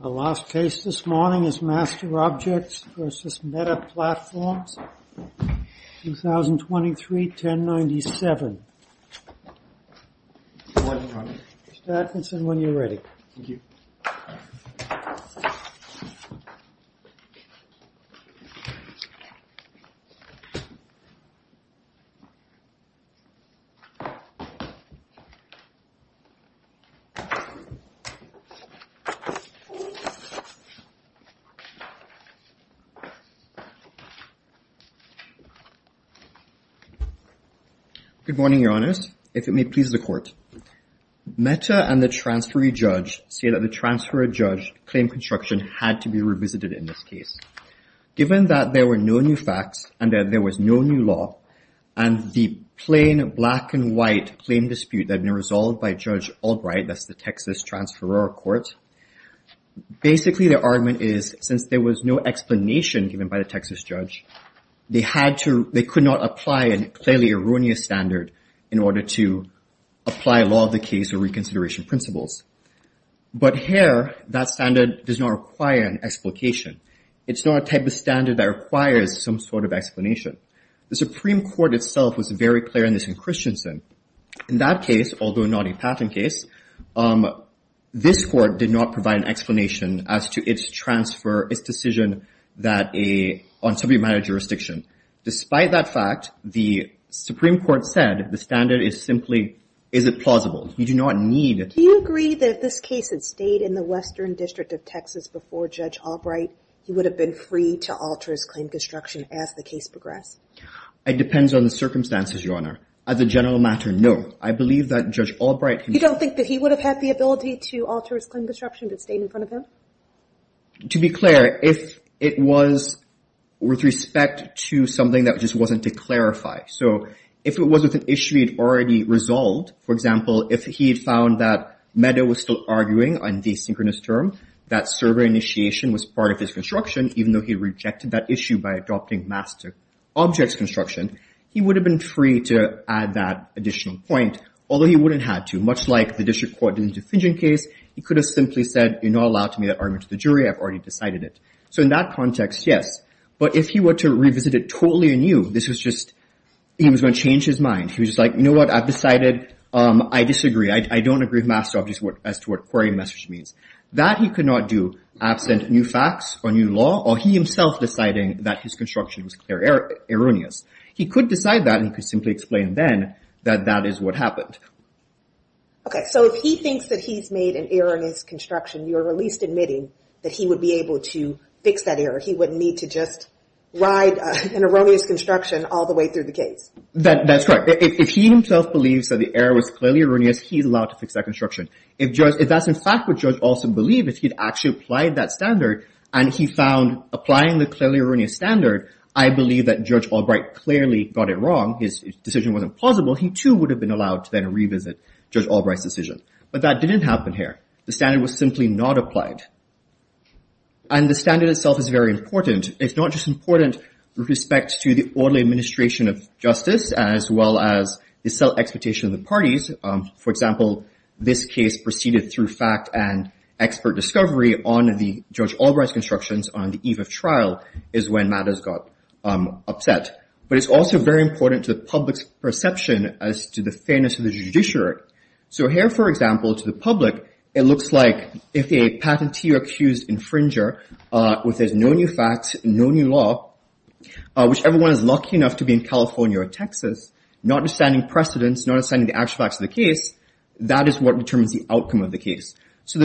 The last case this morning is MasterObjects v. Meta Platforms, 2023-1097. Mr. Atkinson, when you're ready. Thank you. Good morning, Your Honors. If it may please the Court. Meta and the transferee judge say that the transferee judge claimed construction had to be revisited in this case. Given that there were no new facts and that there was no new law, and the plain black-and-white claim dispute that had been resolved by Judge Albright, that's the Texas Transferor Court, basically their argument is, since there was no explanation given by the Texas judge, they could not apply a clearly erroneous standard in order to apply law of the case or reconsideration principles. But here, that standard does not require an explication. It's not a type of standard that requires some sort of explanation. The Supreme Court itself was very clear on this in Christensen. In that case, although not a patent case, this Court did not provide an explanation as to its transfer, its decision on subpoena jurisdiction. Despite that fact, the Supreme Court said the standard is simply, is it plausible? You do not need it. Do you agree that if this case had stayed in the Western District of Texas before Judge Albright, he would have been free to alter his claim to destruction as the case progressed? It depends on the circumstances, Your Honor. As a general matter, no. I believe that Judge Albright can- You don't think that he would have had the ability to alter his claim to destruction if it stayed in front of him? To be clear, if it was with respect to something that just wasn't to clarify. So if it was with an issue he had already resolved, for example, if he had found that Meadow was still arguing on the synchronous term, that server initiation was part of his construction, even though he rejected that issue by adopting mask-to-objects construction, he would have been free to add that additional point, although he wouldn't have to. Much like the District Court did in the Defension case, he could have simply said, you're not allowed to make that argument to the jury. I've already decided it. So in that context, yes. But if he were to revisit it totally anew, this was just, he was going to change his mind. He was like, you know what? I've decided I disagree. I don't agree with mask-to-objects as to what query message means. That he could not do, absent new facts or new law, or he himself deciding that his construction was clear erroneous. He could decide that, and he could simply explain then that that is what happened. Okay, so if he thinks that he's made an error in his construction, you're at least admitting that he would be able to fix that error. He wouldn't need to just ride an erroneous construction all the way through the case. That's correct. If he himself believes that the error was clearly erroneous, he's allowed to fix that construction. If that's in fact what Judge Olson believed, if he'd actually applied that standard, and he found applying the clearly erroneous standard, I believe that Judge Albright clearly got it wrong, his decision wasn't plausible, he too would have been allowed to then revisit Judge Albright's decision. But that didn't happen here. The standard was simply not applied. And the standard itself is very important. It's not just important with respect to the orderly administration of justice as well as the self-expectation of the parties. For example, this case proceeded through fact and expert discovery on the Judge Albright's constructions on the eve of trial is when matters got upset. But it's also very important to the public's perception as to the fairness of the judiciary. So here, for example, to the public, it looks like if a patentee or accused infringer, if there's no new facts, no new law, which everyone is lucky enough to be in California or Texas, not understanding precedence, not understanding the actual facts of the case, that is what determines the outcome of the case. So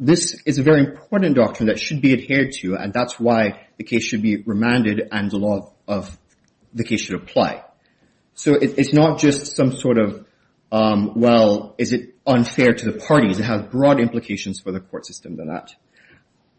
this is a very important doctrine that should be adhered to, and that's why the case should be remanded and the law of the case should apply. So it's not just some sort of, well, is it unfair to the parties? It has broad implications for the court system than that.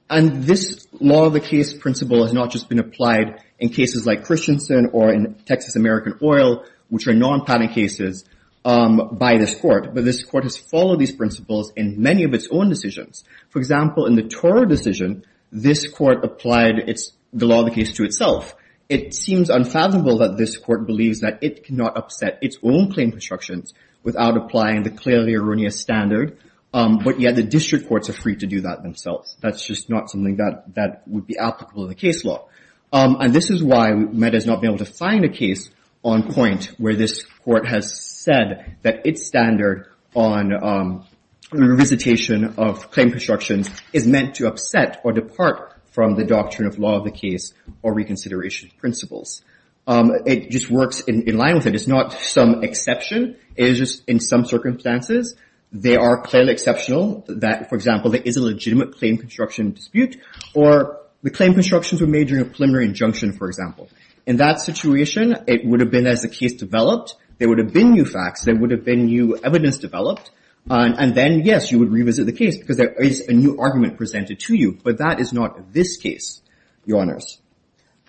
And this law of the case principle has not just been applied in cases like Christensen or in Texas American Oil, which are non-patent cases by this court, but this court has followed these principles in many of its own decisions. For example, in the Toro decision, this court applied the law of the case to itself. It seems unfathomable that this court believes that it cannot upset its own claim constructions without applying the clearly erroneous standard, but yet the district courts are free to do that themselves. That's just not something that would be applicable in the case law. And this is why MED has not been able to find a case on point where this court has said that its standard on revisitation of claim constructions is meant to upset or depart from the doctrine of law of the case or reconsideration of principles. It just works in line with it. It's not some exception. It is just in some circumstances they are clearly exceptional that, for example, there is a legitimate claim construction dispute or the claim constructions were made during a preliminary injunction, for example. In that situation, it would have been as the case developed. There would have been new facts. There would have been new evidence developed. And then, yes, you would revisit the case because there is a new argument presented to you, but that is not this case, Your Honors.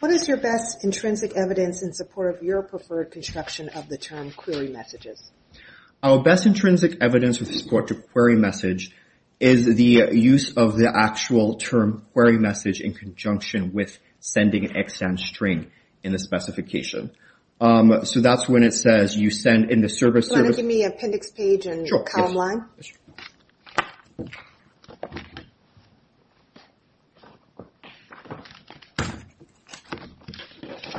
What is your best intrinsic evidence in support of your preferred construction of the term query messages? Our best intrinsic evidence with support to query message is the use of the actual term query message in conjunction with sending an extant string in the specification. So that's when it says you send in the service. Do you want to give me appendix page and column line? Sure. Okay.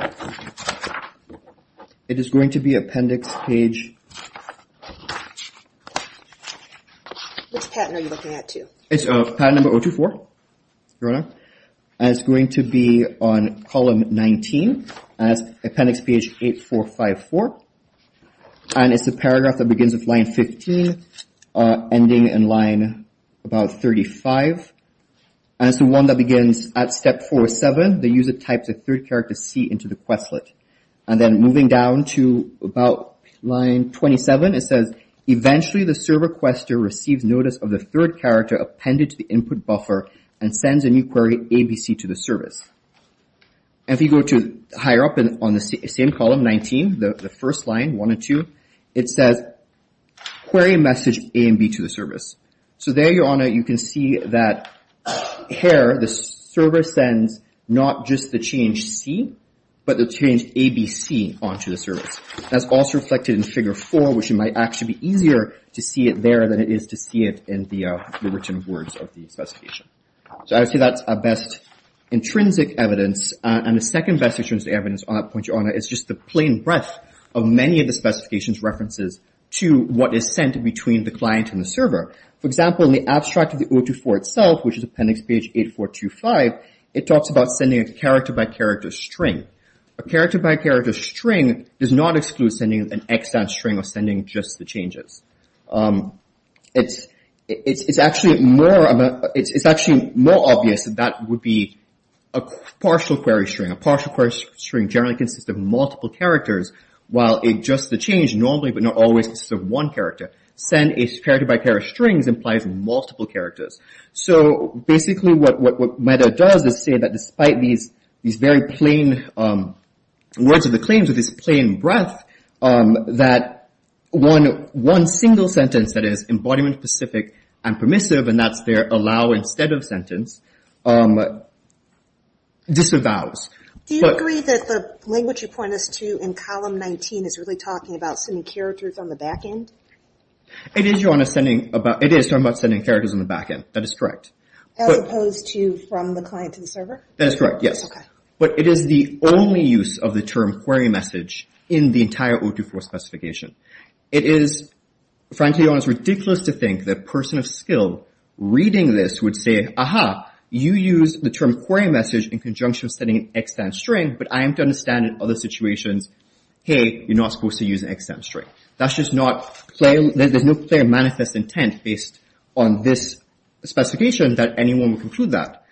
It is going to be appendix page. Which pattern are you looking at, too? It's pattern number 024, Your Honor. And it's going to be on column 19, appendix page 8454. And it's a paragraph that begins with line 15, ending in line about 35. And it's the one that begins at step 407. The user types a third character C into the Questlet. And then moving down to about line 27, it says, eventually the server quester receives notice of the third character appended to the input buffer and sends a new query ABC to the service. And if you go to higher up on the same column, 19, the first line, one or two, it says query message A and B to the service. So there, Your Honor, you can see that here the server sends not just the change C, but the change ABC onto the service. That's also reflected in Figure 4, which it might actually be easier to see it there than it is to see it in the written words of the specification. So I would say that's our best intrinsic evidence. And the second best intrinsic evidence on that point, Your Honor, is just the plain breadth of many of the specification's references to what is sent between the client and the server. For example, in the abstract of the O2-4 itself, which is appendix page 8425, it talks about sending a character-by-character string. A character-by-character string does not exclude sending an extant string or sending just the changes. It's actually more obvious that that would be a partial query string. A partial query string generally consists of multiple characters, while just the change normally but not always consists of one character. Send a character-by-character string implies multiple characters. So basically what Meda does is say that despite these very plain words of the claims or this plain breadth, that one single sentence that is embodiment-specific and permissive, and that's their allow instead of sentence, disavows. Do you agree that the language you point us to in column 19 is really talking about sending characters on the back end? It is, Your Honor. It is talking about sending characters on the back end. That is correct. As opposed to from the client to the server? That is correct, yes. Okay. But it is the only use of the term query message in the entire O2-4 specification. Frankly, Your Honor, it's ridiculous to think that a person of skill reading this would say, Aha, you used the term query message in conjunction with sending an extant string, but I am to understand in other situations, hey, you're not supposed to use an extant string. That's just not plain. There's no plain manifest intent based on this specification that anyone would conclude that.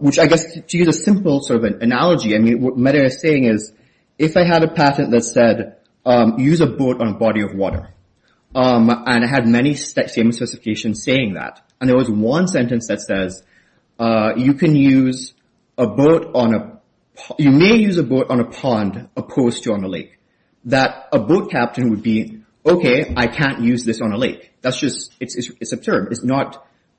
Which I guess, to use a simple sort of analogy, what Meda is saying is if I had a patent that said, use a boat on a body of water, and I had many same specifications saying that, and there was one sentence that says, you may use a boat on a pond opposed to on a lake, that a boat captain would be, okay, I can't use this on a lake. That's just, it's absurd.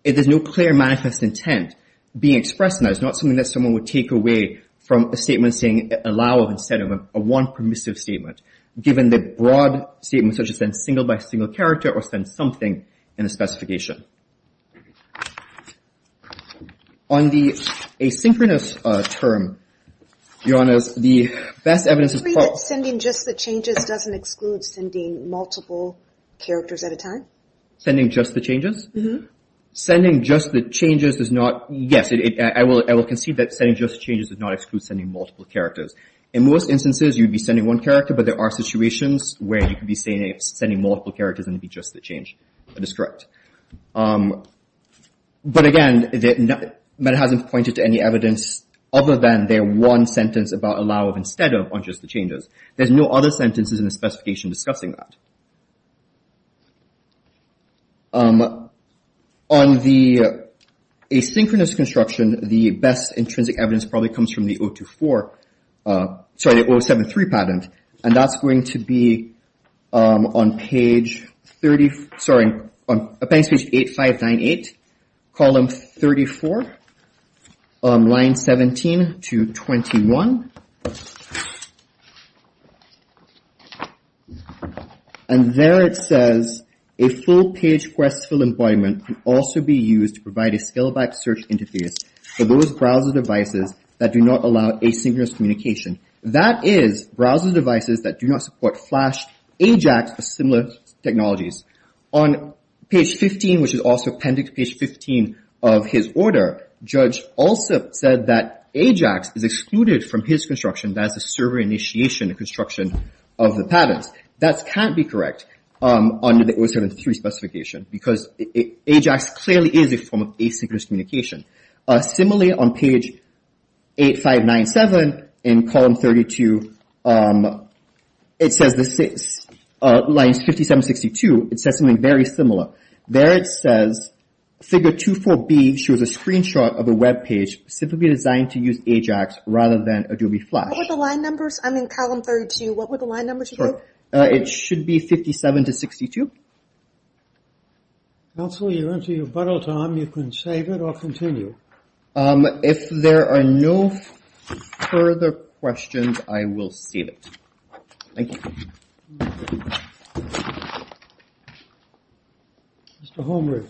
There's no clear manifest intent being expressed in that. It's not something that someone would take away from a statement saying, allow instead of a one permissive statement, given the broad statement such as send single by single character or send something in the specification. On the asynchronous term, your Honor, the best evidence is that sending just the changes doesn't exclude sending multiple characters at a time. Sending just the changes? Mm-hmm. Sending just the changes does not, yes, I will concede that sending just the changes does not exclude sending multiple characters. In most instances, you'd be sending one character, but there are situations where you could be sending multiple characters and it'd be just the change that is correct. But again, Meda hasn't pointed to any evidence other than their one sentence about allow instead of on just the changes. There's no other sentences in the specification discussing that. On the asynchronous construction, the best intrinsic evidence probably comes from the 024, sorry, the 073 patent. And that's going to be on page 30, sorry, on appendix page 8598, column 34, line 17 to 21. And there it says, a full-page quest for employment can also be used to provide a scale-backed search interface for those browser devices that do not allow asynchronous communication. That is, browser devices that do not support Flash, AJAX, or similar technologies. On page 15, which is also appendix page 15 of his order, judge also said that AJAX is excluded from his construction that is the server initiation construction of the patents. That can't be correct under the 073 specification because AJAX clearly is a form of asynchronous communication. Similarly, on page 8597 in column 32, it says, lines 57, 62, it says something very similar. There it says, figure 24B shows a screenshot of a webpage specifically designed to use AJAX rather than Adobe Flash. What were the line numbers? I'm in column 32. What were the line numbers again? It should be 57 to 62. Counselor, you're into your bottle time. You can save it or continue. If there are no further questions, I will save it. Thank you. Mr. Holmgren.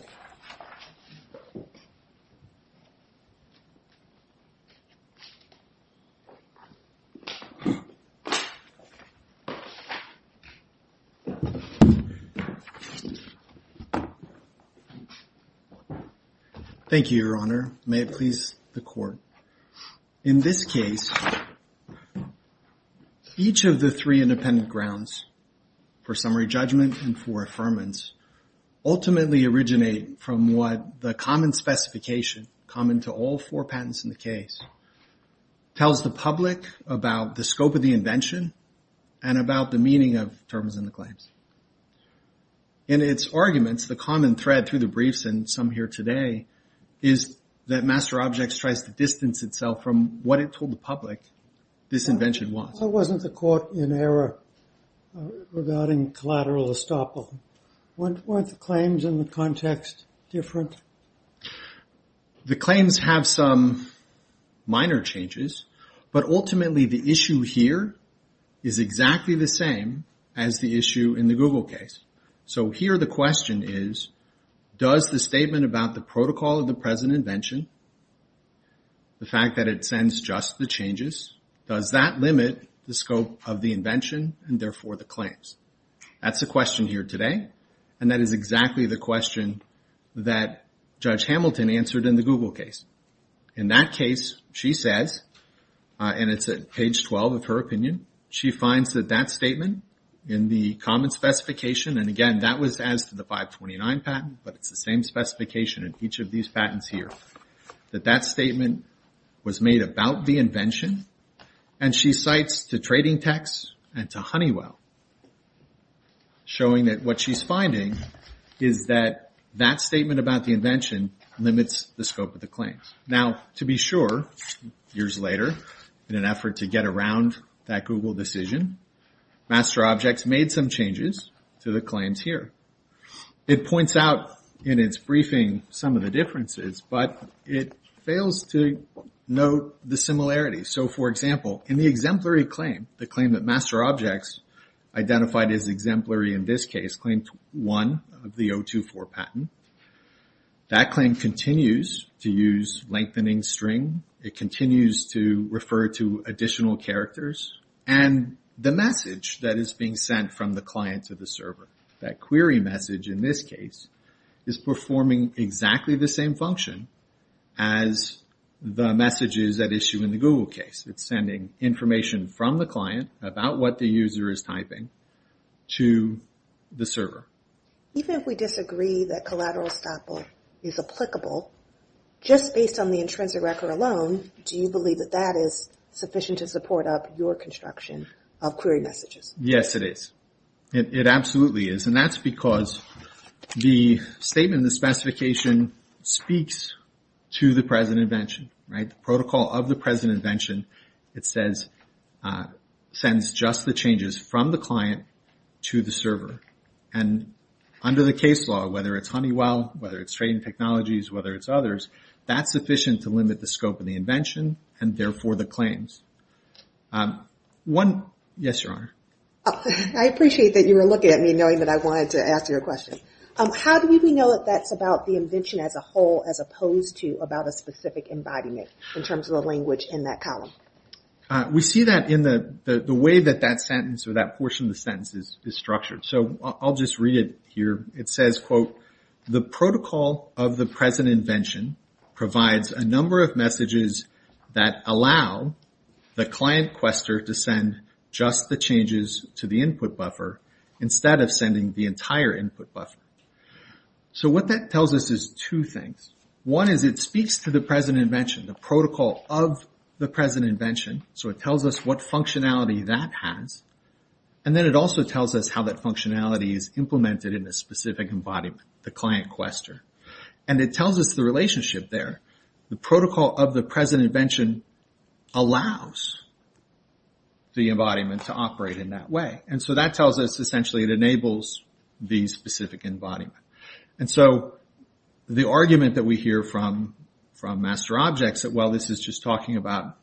Thank you, Your Honor. May it please the court. In this case, each of the three independent grounds for summary judgment and for affirmance ultimately originate from what the common specification, common to all four patents in the case, tells the public about the scope of the invention and about the meaning of terms and claims. In its arguments, the common thread through the briefs and some here today is that Master Objects tries to distance itself from what it told the public this invention was. Why wasn't the court in error regarding collateral estoppel? Weren't the claims in the context different? The claims have some minor changes, but ultimately the issue here is exactly the same as the issue in the Google case. So here the question is, does the statement about the protocol of the present invention, the fact that it sends just the changes, does that limit the scope of the invention and therefore the claims? That's the question here today, and that is exactly the question that Judge Hamilton answered in the Google case. In that case, she says, and it's at page 12 of her opinion, she finds that that statement in the common specification, and again, that was as to the 529 patent, but it's the same specification in each of these patents here, that that statement was made about the invention, and she cites the trading tax and to Honeywell, showing that what she's finding is that that statement about the invention limits the scope of the claims. Now, to be sure, years later, in an effort to get around that Google decision, Master Objects made some changes to the claims here. It points out in its briefing some of the differences, but it fails to note the similarities. So, for example, in the exemplary claim, the claim that Master Objects identified as exemplary in this case, claim one of the 024 patent, that claim continues to use lengthening string. It continues to refer to additional characters, and the message that is being sent from the client to the server, that query message in this case, is performing exactly the same function as the messages that issue in the Google case. It's sending information from the client about what the user is typing to the server. Even if we disagree that collateral estoppel is applicable, just based on the intrinsic record alone, do you believe that that is sufficient to support up your construction of query messages? Yes, it is. It absolutely is. And that's because the statement, the specification, speaks to the present invention. The protocol of the present invention, it says, sends just the changes from the client to the server. And under the case law, whether it's Honeywell, whether it's Trading Technologies, whether it's others, that's sufficient to limit the scope of the invention, and therefore the claims. Yes, Your Honor. I appreciate that you were looking at me, knowing that I wanted to ask you a question. How do we know that that's about the invention as a whole, as opposed to about a specific embodiment, in terms of the language in that column? We see that in the way that that sentence, or that portion of the sentence, is structured. The protocol of the present invention provides a number of messages that allow the client, Questor, to send just the changes to the input buffer, instead of sending the entire input buffer. So what that tells us is two things. One is it speaks to the present invention, the protocol of the present invention. So it tells us what functionality that has. And then it also tells us how that functionality is implemented in a specific embodiment, the client, Questor. And it tells us the relationship there. The protocol of the present invention allows the embodiment to operate in that way. And so that tells us, essentially, it enables the specific embodiment. And so the argument that we hear from master objects, that, well, this is just talking about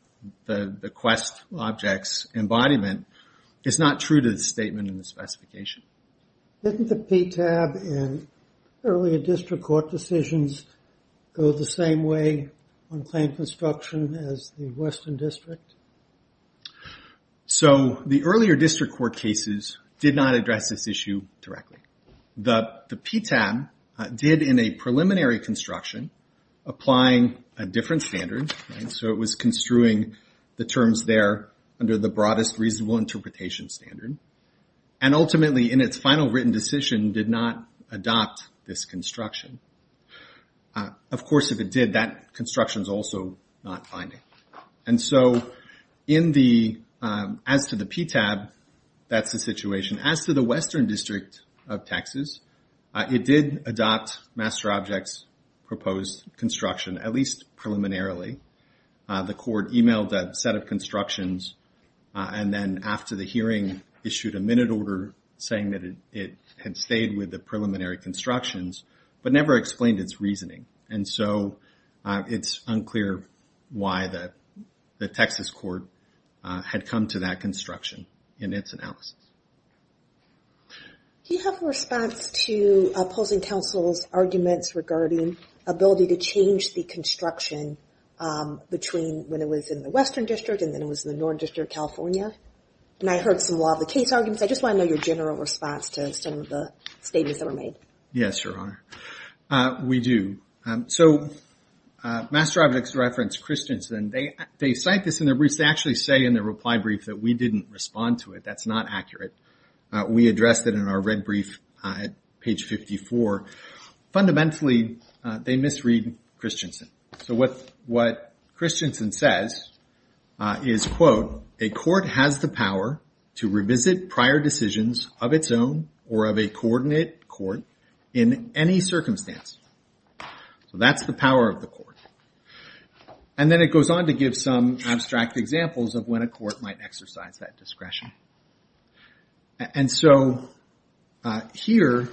the Quest object's embodiment, is not true to the statement in the specification. Didn't the PTAB and earlier district court decisions go the same way on claim construction as the Western District? So the earlier district court cases did not address this issue directly. The PTAB did, in a preliminary construction, applying a different standard. So it was construing the terms there under the broadest reasonable interpretation standard. And ultimately, in its final written decision, did not adopt this construction. Of course, if it did, that construction's also not binding. And so, as to the PTAB, that's the situation. As to the Western District of Texas, it did adopt master object's proposed construction, at least preliminarily. The court emailed a set of constructions. And then after the hearing, issued a minute order saying that it had stayed with the preliminary constructions, but never explained its reasoning. And so, it's unclear why the Texas court had come to that construction in its analysis. Do you have a response to opposing counsel's arguments regarding ability to change the construction between when it was in the Western District and then it was in the Northern District of California? And I heard some law of the case arguments. I just want to know your general response to some of the statements that were made. Yes, Your Honor. We do. So, master object's referenced Christensen. They cite this in their briefs. They actually say in their reply brief that we didn't respond to it. That's not accurate. We addressed it in our red brief at page 54. Fundamentally, they misread Christensen. So, what Christensen says is, quote, a court has the power to revisit prior decisions of its own or of a coordinate court in any circumstance. So, that's the power of the court. And then it goes on to give some abstract examples of when a court might exercise that discretion. And so, here,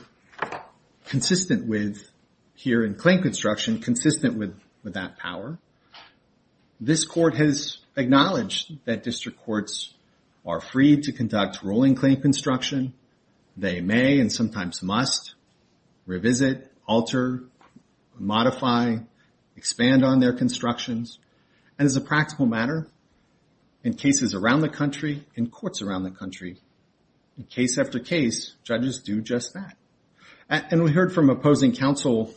consistent with, here in claim construction, consistent with that power, this court has acknowledged that district courts are free to conduct rolling claim construction. They may and sometimes must revisit, alter, modify, expand on their constructions. And as a practical matter, in cases around the country, in courts around the country, case after case, judges do just that. And we heard from opposing counsel,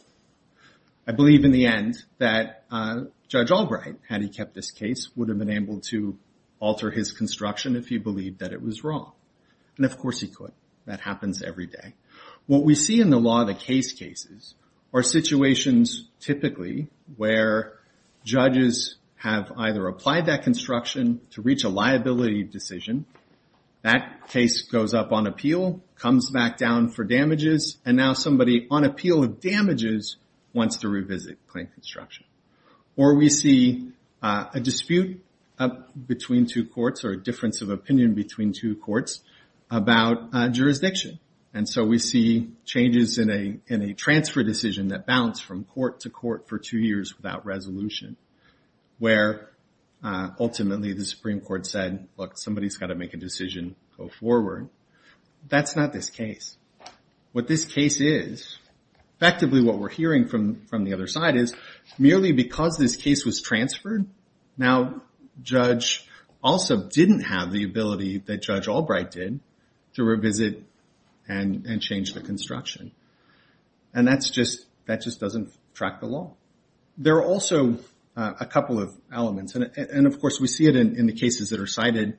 I believe, in the end, that Judge Albright, had he kept this case, would have been able to alter his construction if he believed that it was wrong. And, of course, he could. That happens every day. What we see in the law of the case cases are situations, typically, where judges have either applied that construction to reach a liability decision, that case goes up on appeal, comes back down for damages, and now somebody on appeal of damages wants to revisit claim construction. Or we see a dispute between two courts or a difference of opinion between two courts about jurisdiction. And so we see changes in a transfer decision that bounce from court to court for two years without resolution, where ultimately the Supreme Court said, look, somebody's got to make a decision, go forward. That's not this case. What this case is, effectively what we're hearing from the other side is, merely because this case was transferred, Now, Judge also didn't have the ability that Judge Albright did to revisit and change the construction. And that just doesn't track the law. There are also a couple of elements. And, of course, we see it in the cases that are cited.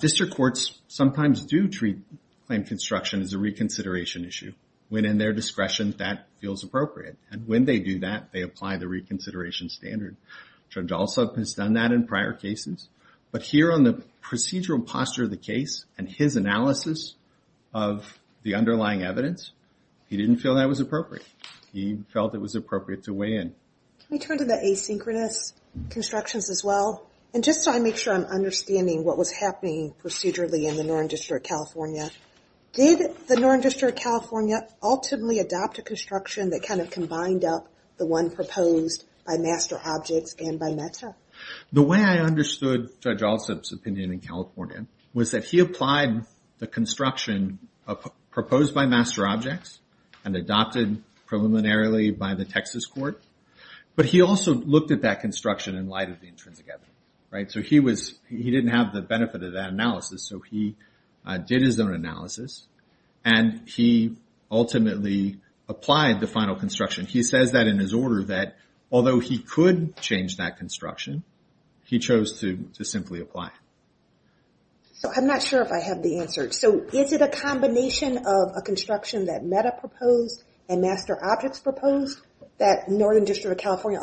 District courts sometimes do treat claim construction as a reconsideration issue. When in their discretion, that feels appropriate. And when they do that, they apply the reconsideration standard. Judge also has done that in prior cases. But here on the procedural posture of the case and his analysis of the underlying evidence, he didn't feel that was appropriate. He felt it was appropriate to weigh in. Can we turn to the asynchronous constructions as well? And just so I make sure I'm understanding what was happening procedurally in the Northern District of California, did the Northern District of California ultimately adopt a construction that kind of combined up the one proposed by Master Objects and by META? The way I understood Judge Alsup's opinion in California was that he applied the construction proposed by Master Objects and adopted preliminarily by the Texas court. But he also looked at that construction in light of the intrinsic evidence. So he didn't have the benefit of that analysis. So he did his own analysis. And he ultimately applied the final construction. He says that in his order that although he could change that construction, he chose to simply apply it. So I'm not sure if I have the answer. So is it a combination of a construction that META proposed and Master Objects proposed that Northern District of California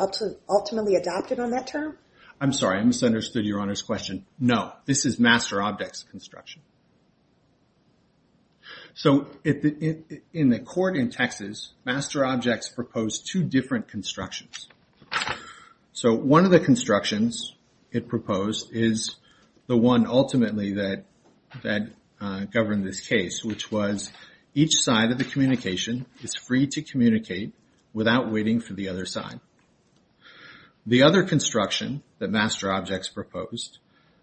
ultimately adopted on that term? I'm sorry. I misunderstood Your Honor's question. No, this is Master Objects' construction. So in the court in Texas, Master Objects proposed two different constructions. So one of the constructions it proposed is the one ultimately that governed this case, which was each side of the communication is free to communicate without waiting for the other side. The other construction that Master Objects proposed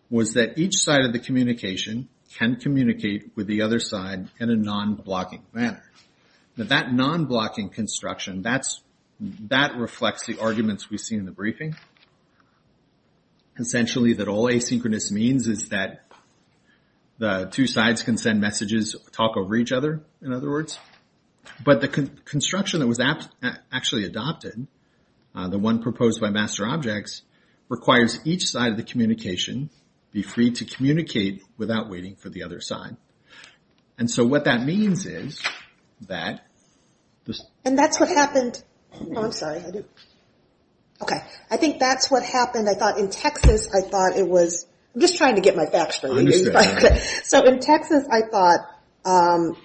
was that each side of the communication can communicate with the other side in a non-blocking manner. Now that non-blocking construction, that reflects the arguments we've seen in the briefing. Essentially that all asynchronous means is that the two sides can send messages, talk over each other, in other words. But the construction that was actually adopted, the one proposed by Master Objects, requires each side of the communication be free to communicate without waiting for the other side. And so what that means is that... And that's what happened... Oh, I'm sorry. I do... Okay. I think that's what happened. I thought in Texas, I thought it was... I'm just trying to get my facts straight. So in Texas, I thought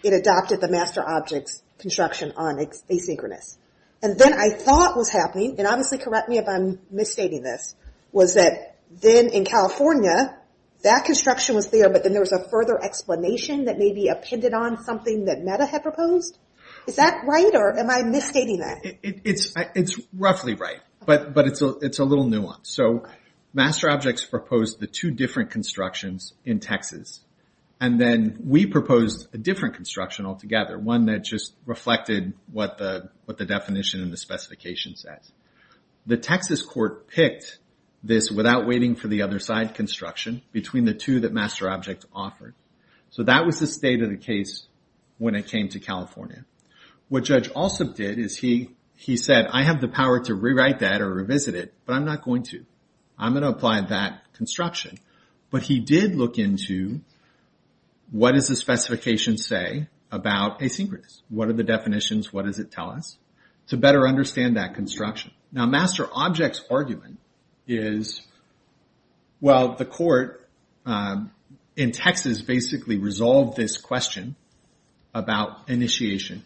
it adopted the Master Objects construction on asynchronous. And then I thought what was happening, and obviously correct me if I'm misstating this, was that then in California, that construction was there, but then there was a further explanation that maybe appended on something that Meta had proposed. Is that right, or am I misstating that? It's roughly right, but it's a little nuanced. So Master Objects proposed the two different constructions in Texas, and then we proposed a different construction altogether, one that just reflected what the definition and the specification says. The Texas court picked this without waiting for the other side construction between the two that Master Objects offered. So that was the state of the case when it came to California. What Judge Alsop did is he said, I have the power to rewrite that or revisit it, but I'm not going to. I'm going to apply that construction. But he did look into what does the specification say about asynchronous? What are the definitions? What does it tell us? To better understand that construction. Now Master Objects' argument is, well, the court in Texas basically resolved this question about initiation.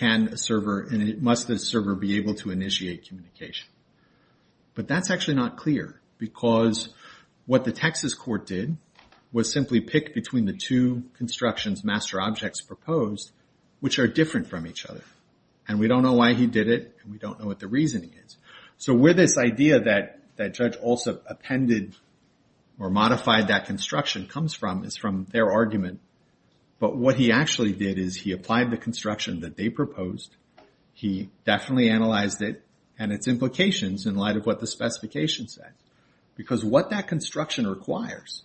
Must the server be able to initiate communication? But that's actually not clear, because what the Texas court did was simply pick between the two constructions Master Objects proposed, which are different from each other. And we don't know why he did it, and we don't know what the reason is. So where this idea that Judge Alsop appended or modified that construction comes from is from their argument. But what he actually did is he applied the construction that they proposed. He definitely analyzed it and its implications in light of what the specification said. Because what that construction requires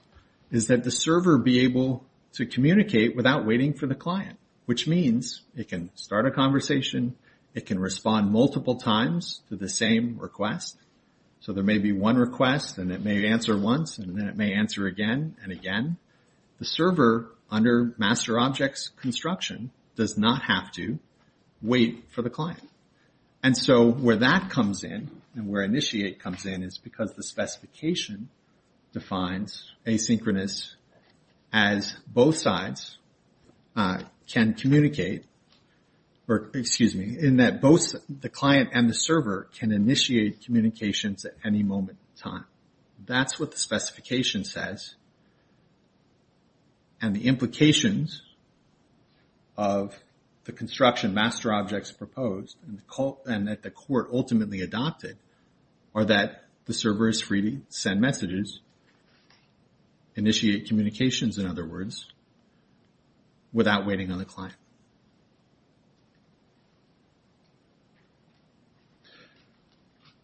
is that the server be able to communicate without waiting for the client. Which means it can start a conversation. It can respond multiple times to the same request. So there may be one request, and it may answer once, and then it may answer again and again. The server, under Master Objects construction, does not have to wait for the client. And so where that comes in, and where initiate comes in, is because the specification defines asynchronous as both sides can communicate, in that both the client and the server can initiate communications at any moment in time. That's what the specification says. And the implications of the construction Master Objects proposed and that the court ultimately adopted are that the server is free to send messages, initiate communications in other words, without waiting on the client.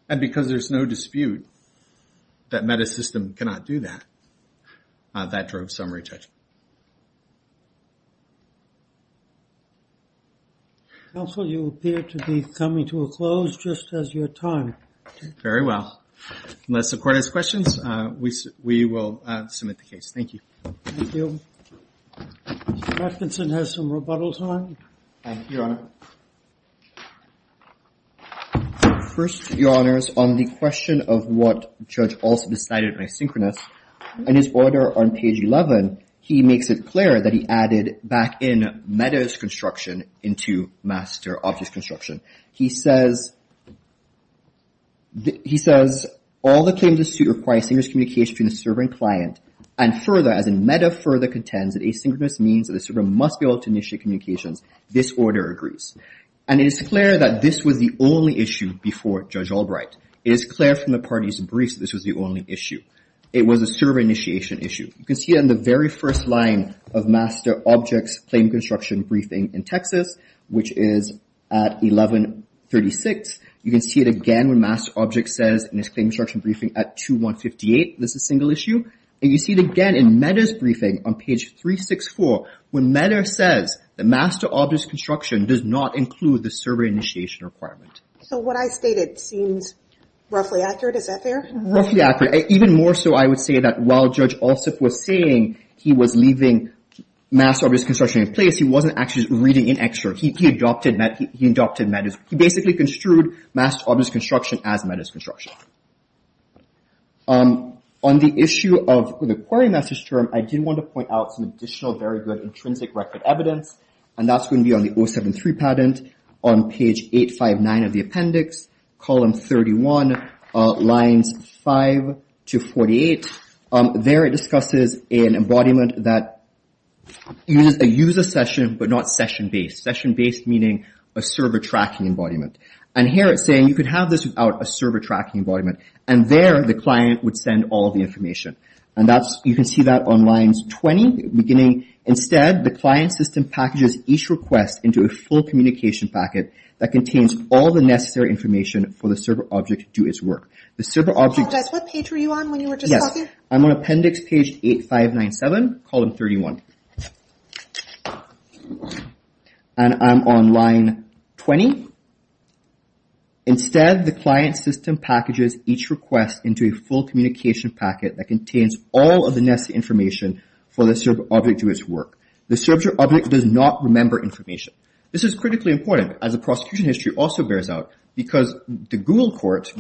And because there's no dispute that MetaSystem cannot do that, that drove summary judgment. Counsel, you appear to be coming to a close just as your time. Very well. Unless the court has questions, we will submit the case. Thank you. Thank you. Mr. Atkinson has some rebuttal time. Thank you, Your Honor. First, Your Honors, on the question of what Judge Alston decided by asynchronous, in his order on page 11, he makes it clear that he added back in Meta's construction into Master Objects construction. He says, he says, all the claims of suit require synchronous communication between the server and client, and further, as in Meta further contends that asynchronous means that the server must be able to initiate communications. This order agrees. And it is clear that this was the only issue before Judge Albright. It is clear from the parties' briefs that this was the only issue. It was a server initiation issue. You can see on the very first line of Master Objects claim construction briefing in Texas, which is at 1136. You can see it again when Master Objects says in its claim construction briefing at 2158, this is a single issue. And you see it again in Meta's briefing on page 364 when Meta says that Master Objects construction does not include the server initiation requirement. So what I stated seems roughly accurate. Is that fair? Roughly accurate. Even more so, I would say, that while Judge Allsup was saying he was leaving Master Objects construction in place, he wasn't actually reading in extra. He adopted Meta's, he basically construed Master Objects construction as Meta's construction. On the issue of the query master's term, I did want to point out some additional, very good, intrinsic record evidence, and that's going to be on the 073 patent on page 859 of the appendix, column 31, lines 5 to 48. There it discusses an embodiment that uses a user session but not session-based. Session-based meaning a server tracking embodiment. And here it's saying you could have this without a server tracking embodiment. And there the client would send all of the information. And you can see that on lines 20, beginning, instead, the client system packages each request into a full communication packet that contains all the necessary information for the server object to do its work. The server object... Apologize, what page were you on when you were just talking? Yes, I'm on appendix page 8597, column 31. And I'm on line 20. Instead, the client system packages each request into a full communication packet that contains all of the necessary information for the server object to do its work. The server object does not remember information. This is critically important as the prosecution history also bears out because the Google court,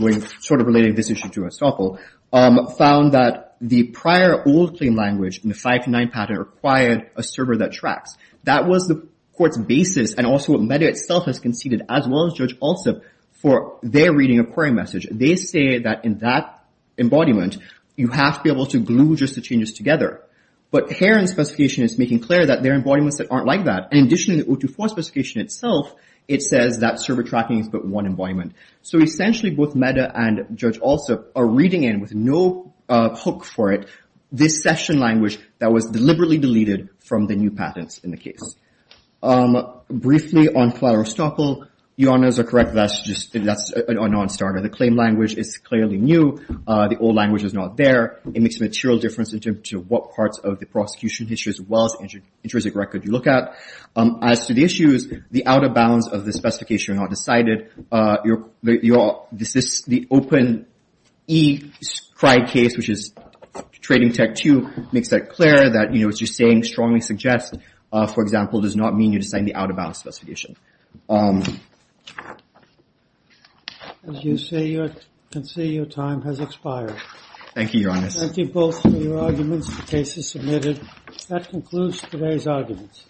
sort of relating this issue to Estoppel, found that the prior old claim language in the 529 patent required a server that tracks. That was the court's basis and also what MEDEA itself has conceded, as well as Judge Alsup, for their reading of query message. They say that in that embodiment, you have to be able to glue just the changes together. But Heron's specification is making clear that there are embodiments that aren't like that. In addition to the 024 specification itself, it says that server tracking is but one embodiment. So essentially, both MEDEA and Judge Alsup are reading in with no hook for it, this session language that was deliberately deleted from the new patents in the case. Briefly, on Clara Estoppel, your honors are correct, that's a non-starter. The claim language is clearly new. The old language is not there. It makes a material difference in terms of what parts of the prosecution history, as well as the intrinsic record you look at. As to the issues, the out-of-bounds of the specification are not decided. The open E scribe case, which is Trading Tech 2, makes that clear, that what you're saying strongly suggests, for example, does not mean you're deciding the out-of-bounds specification. As you can see, your time has expired. Thank you, your honors. Thank you both for your arguments. The case is submitted. That concludes today's arguments.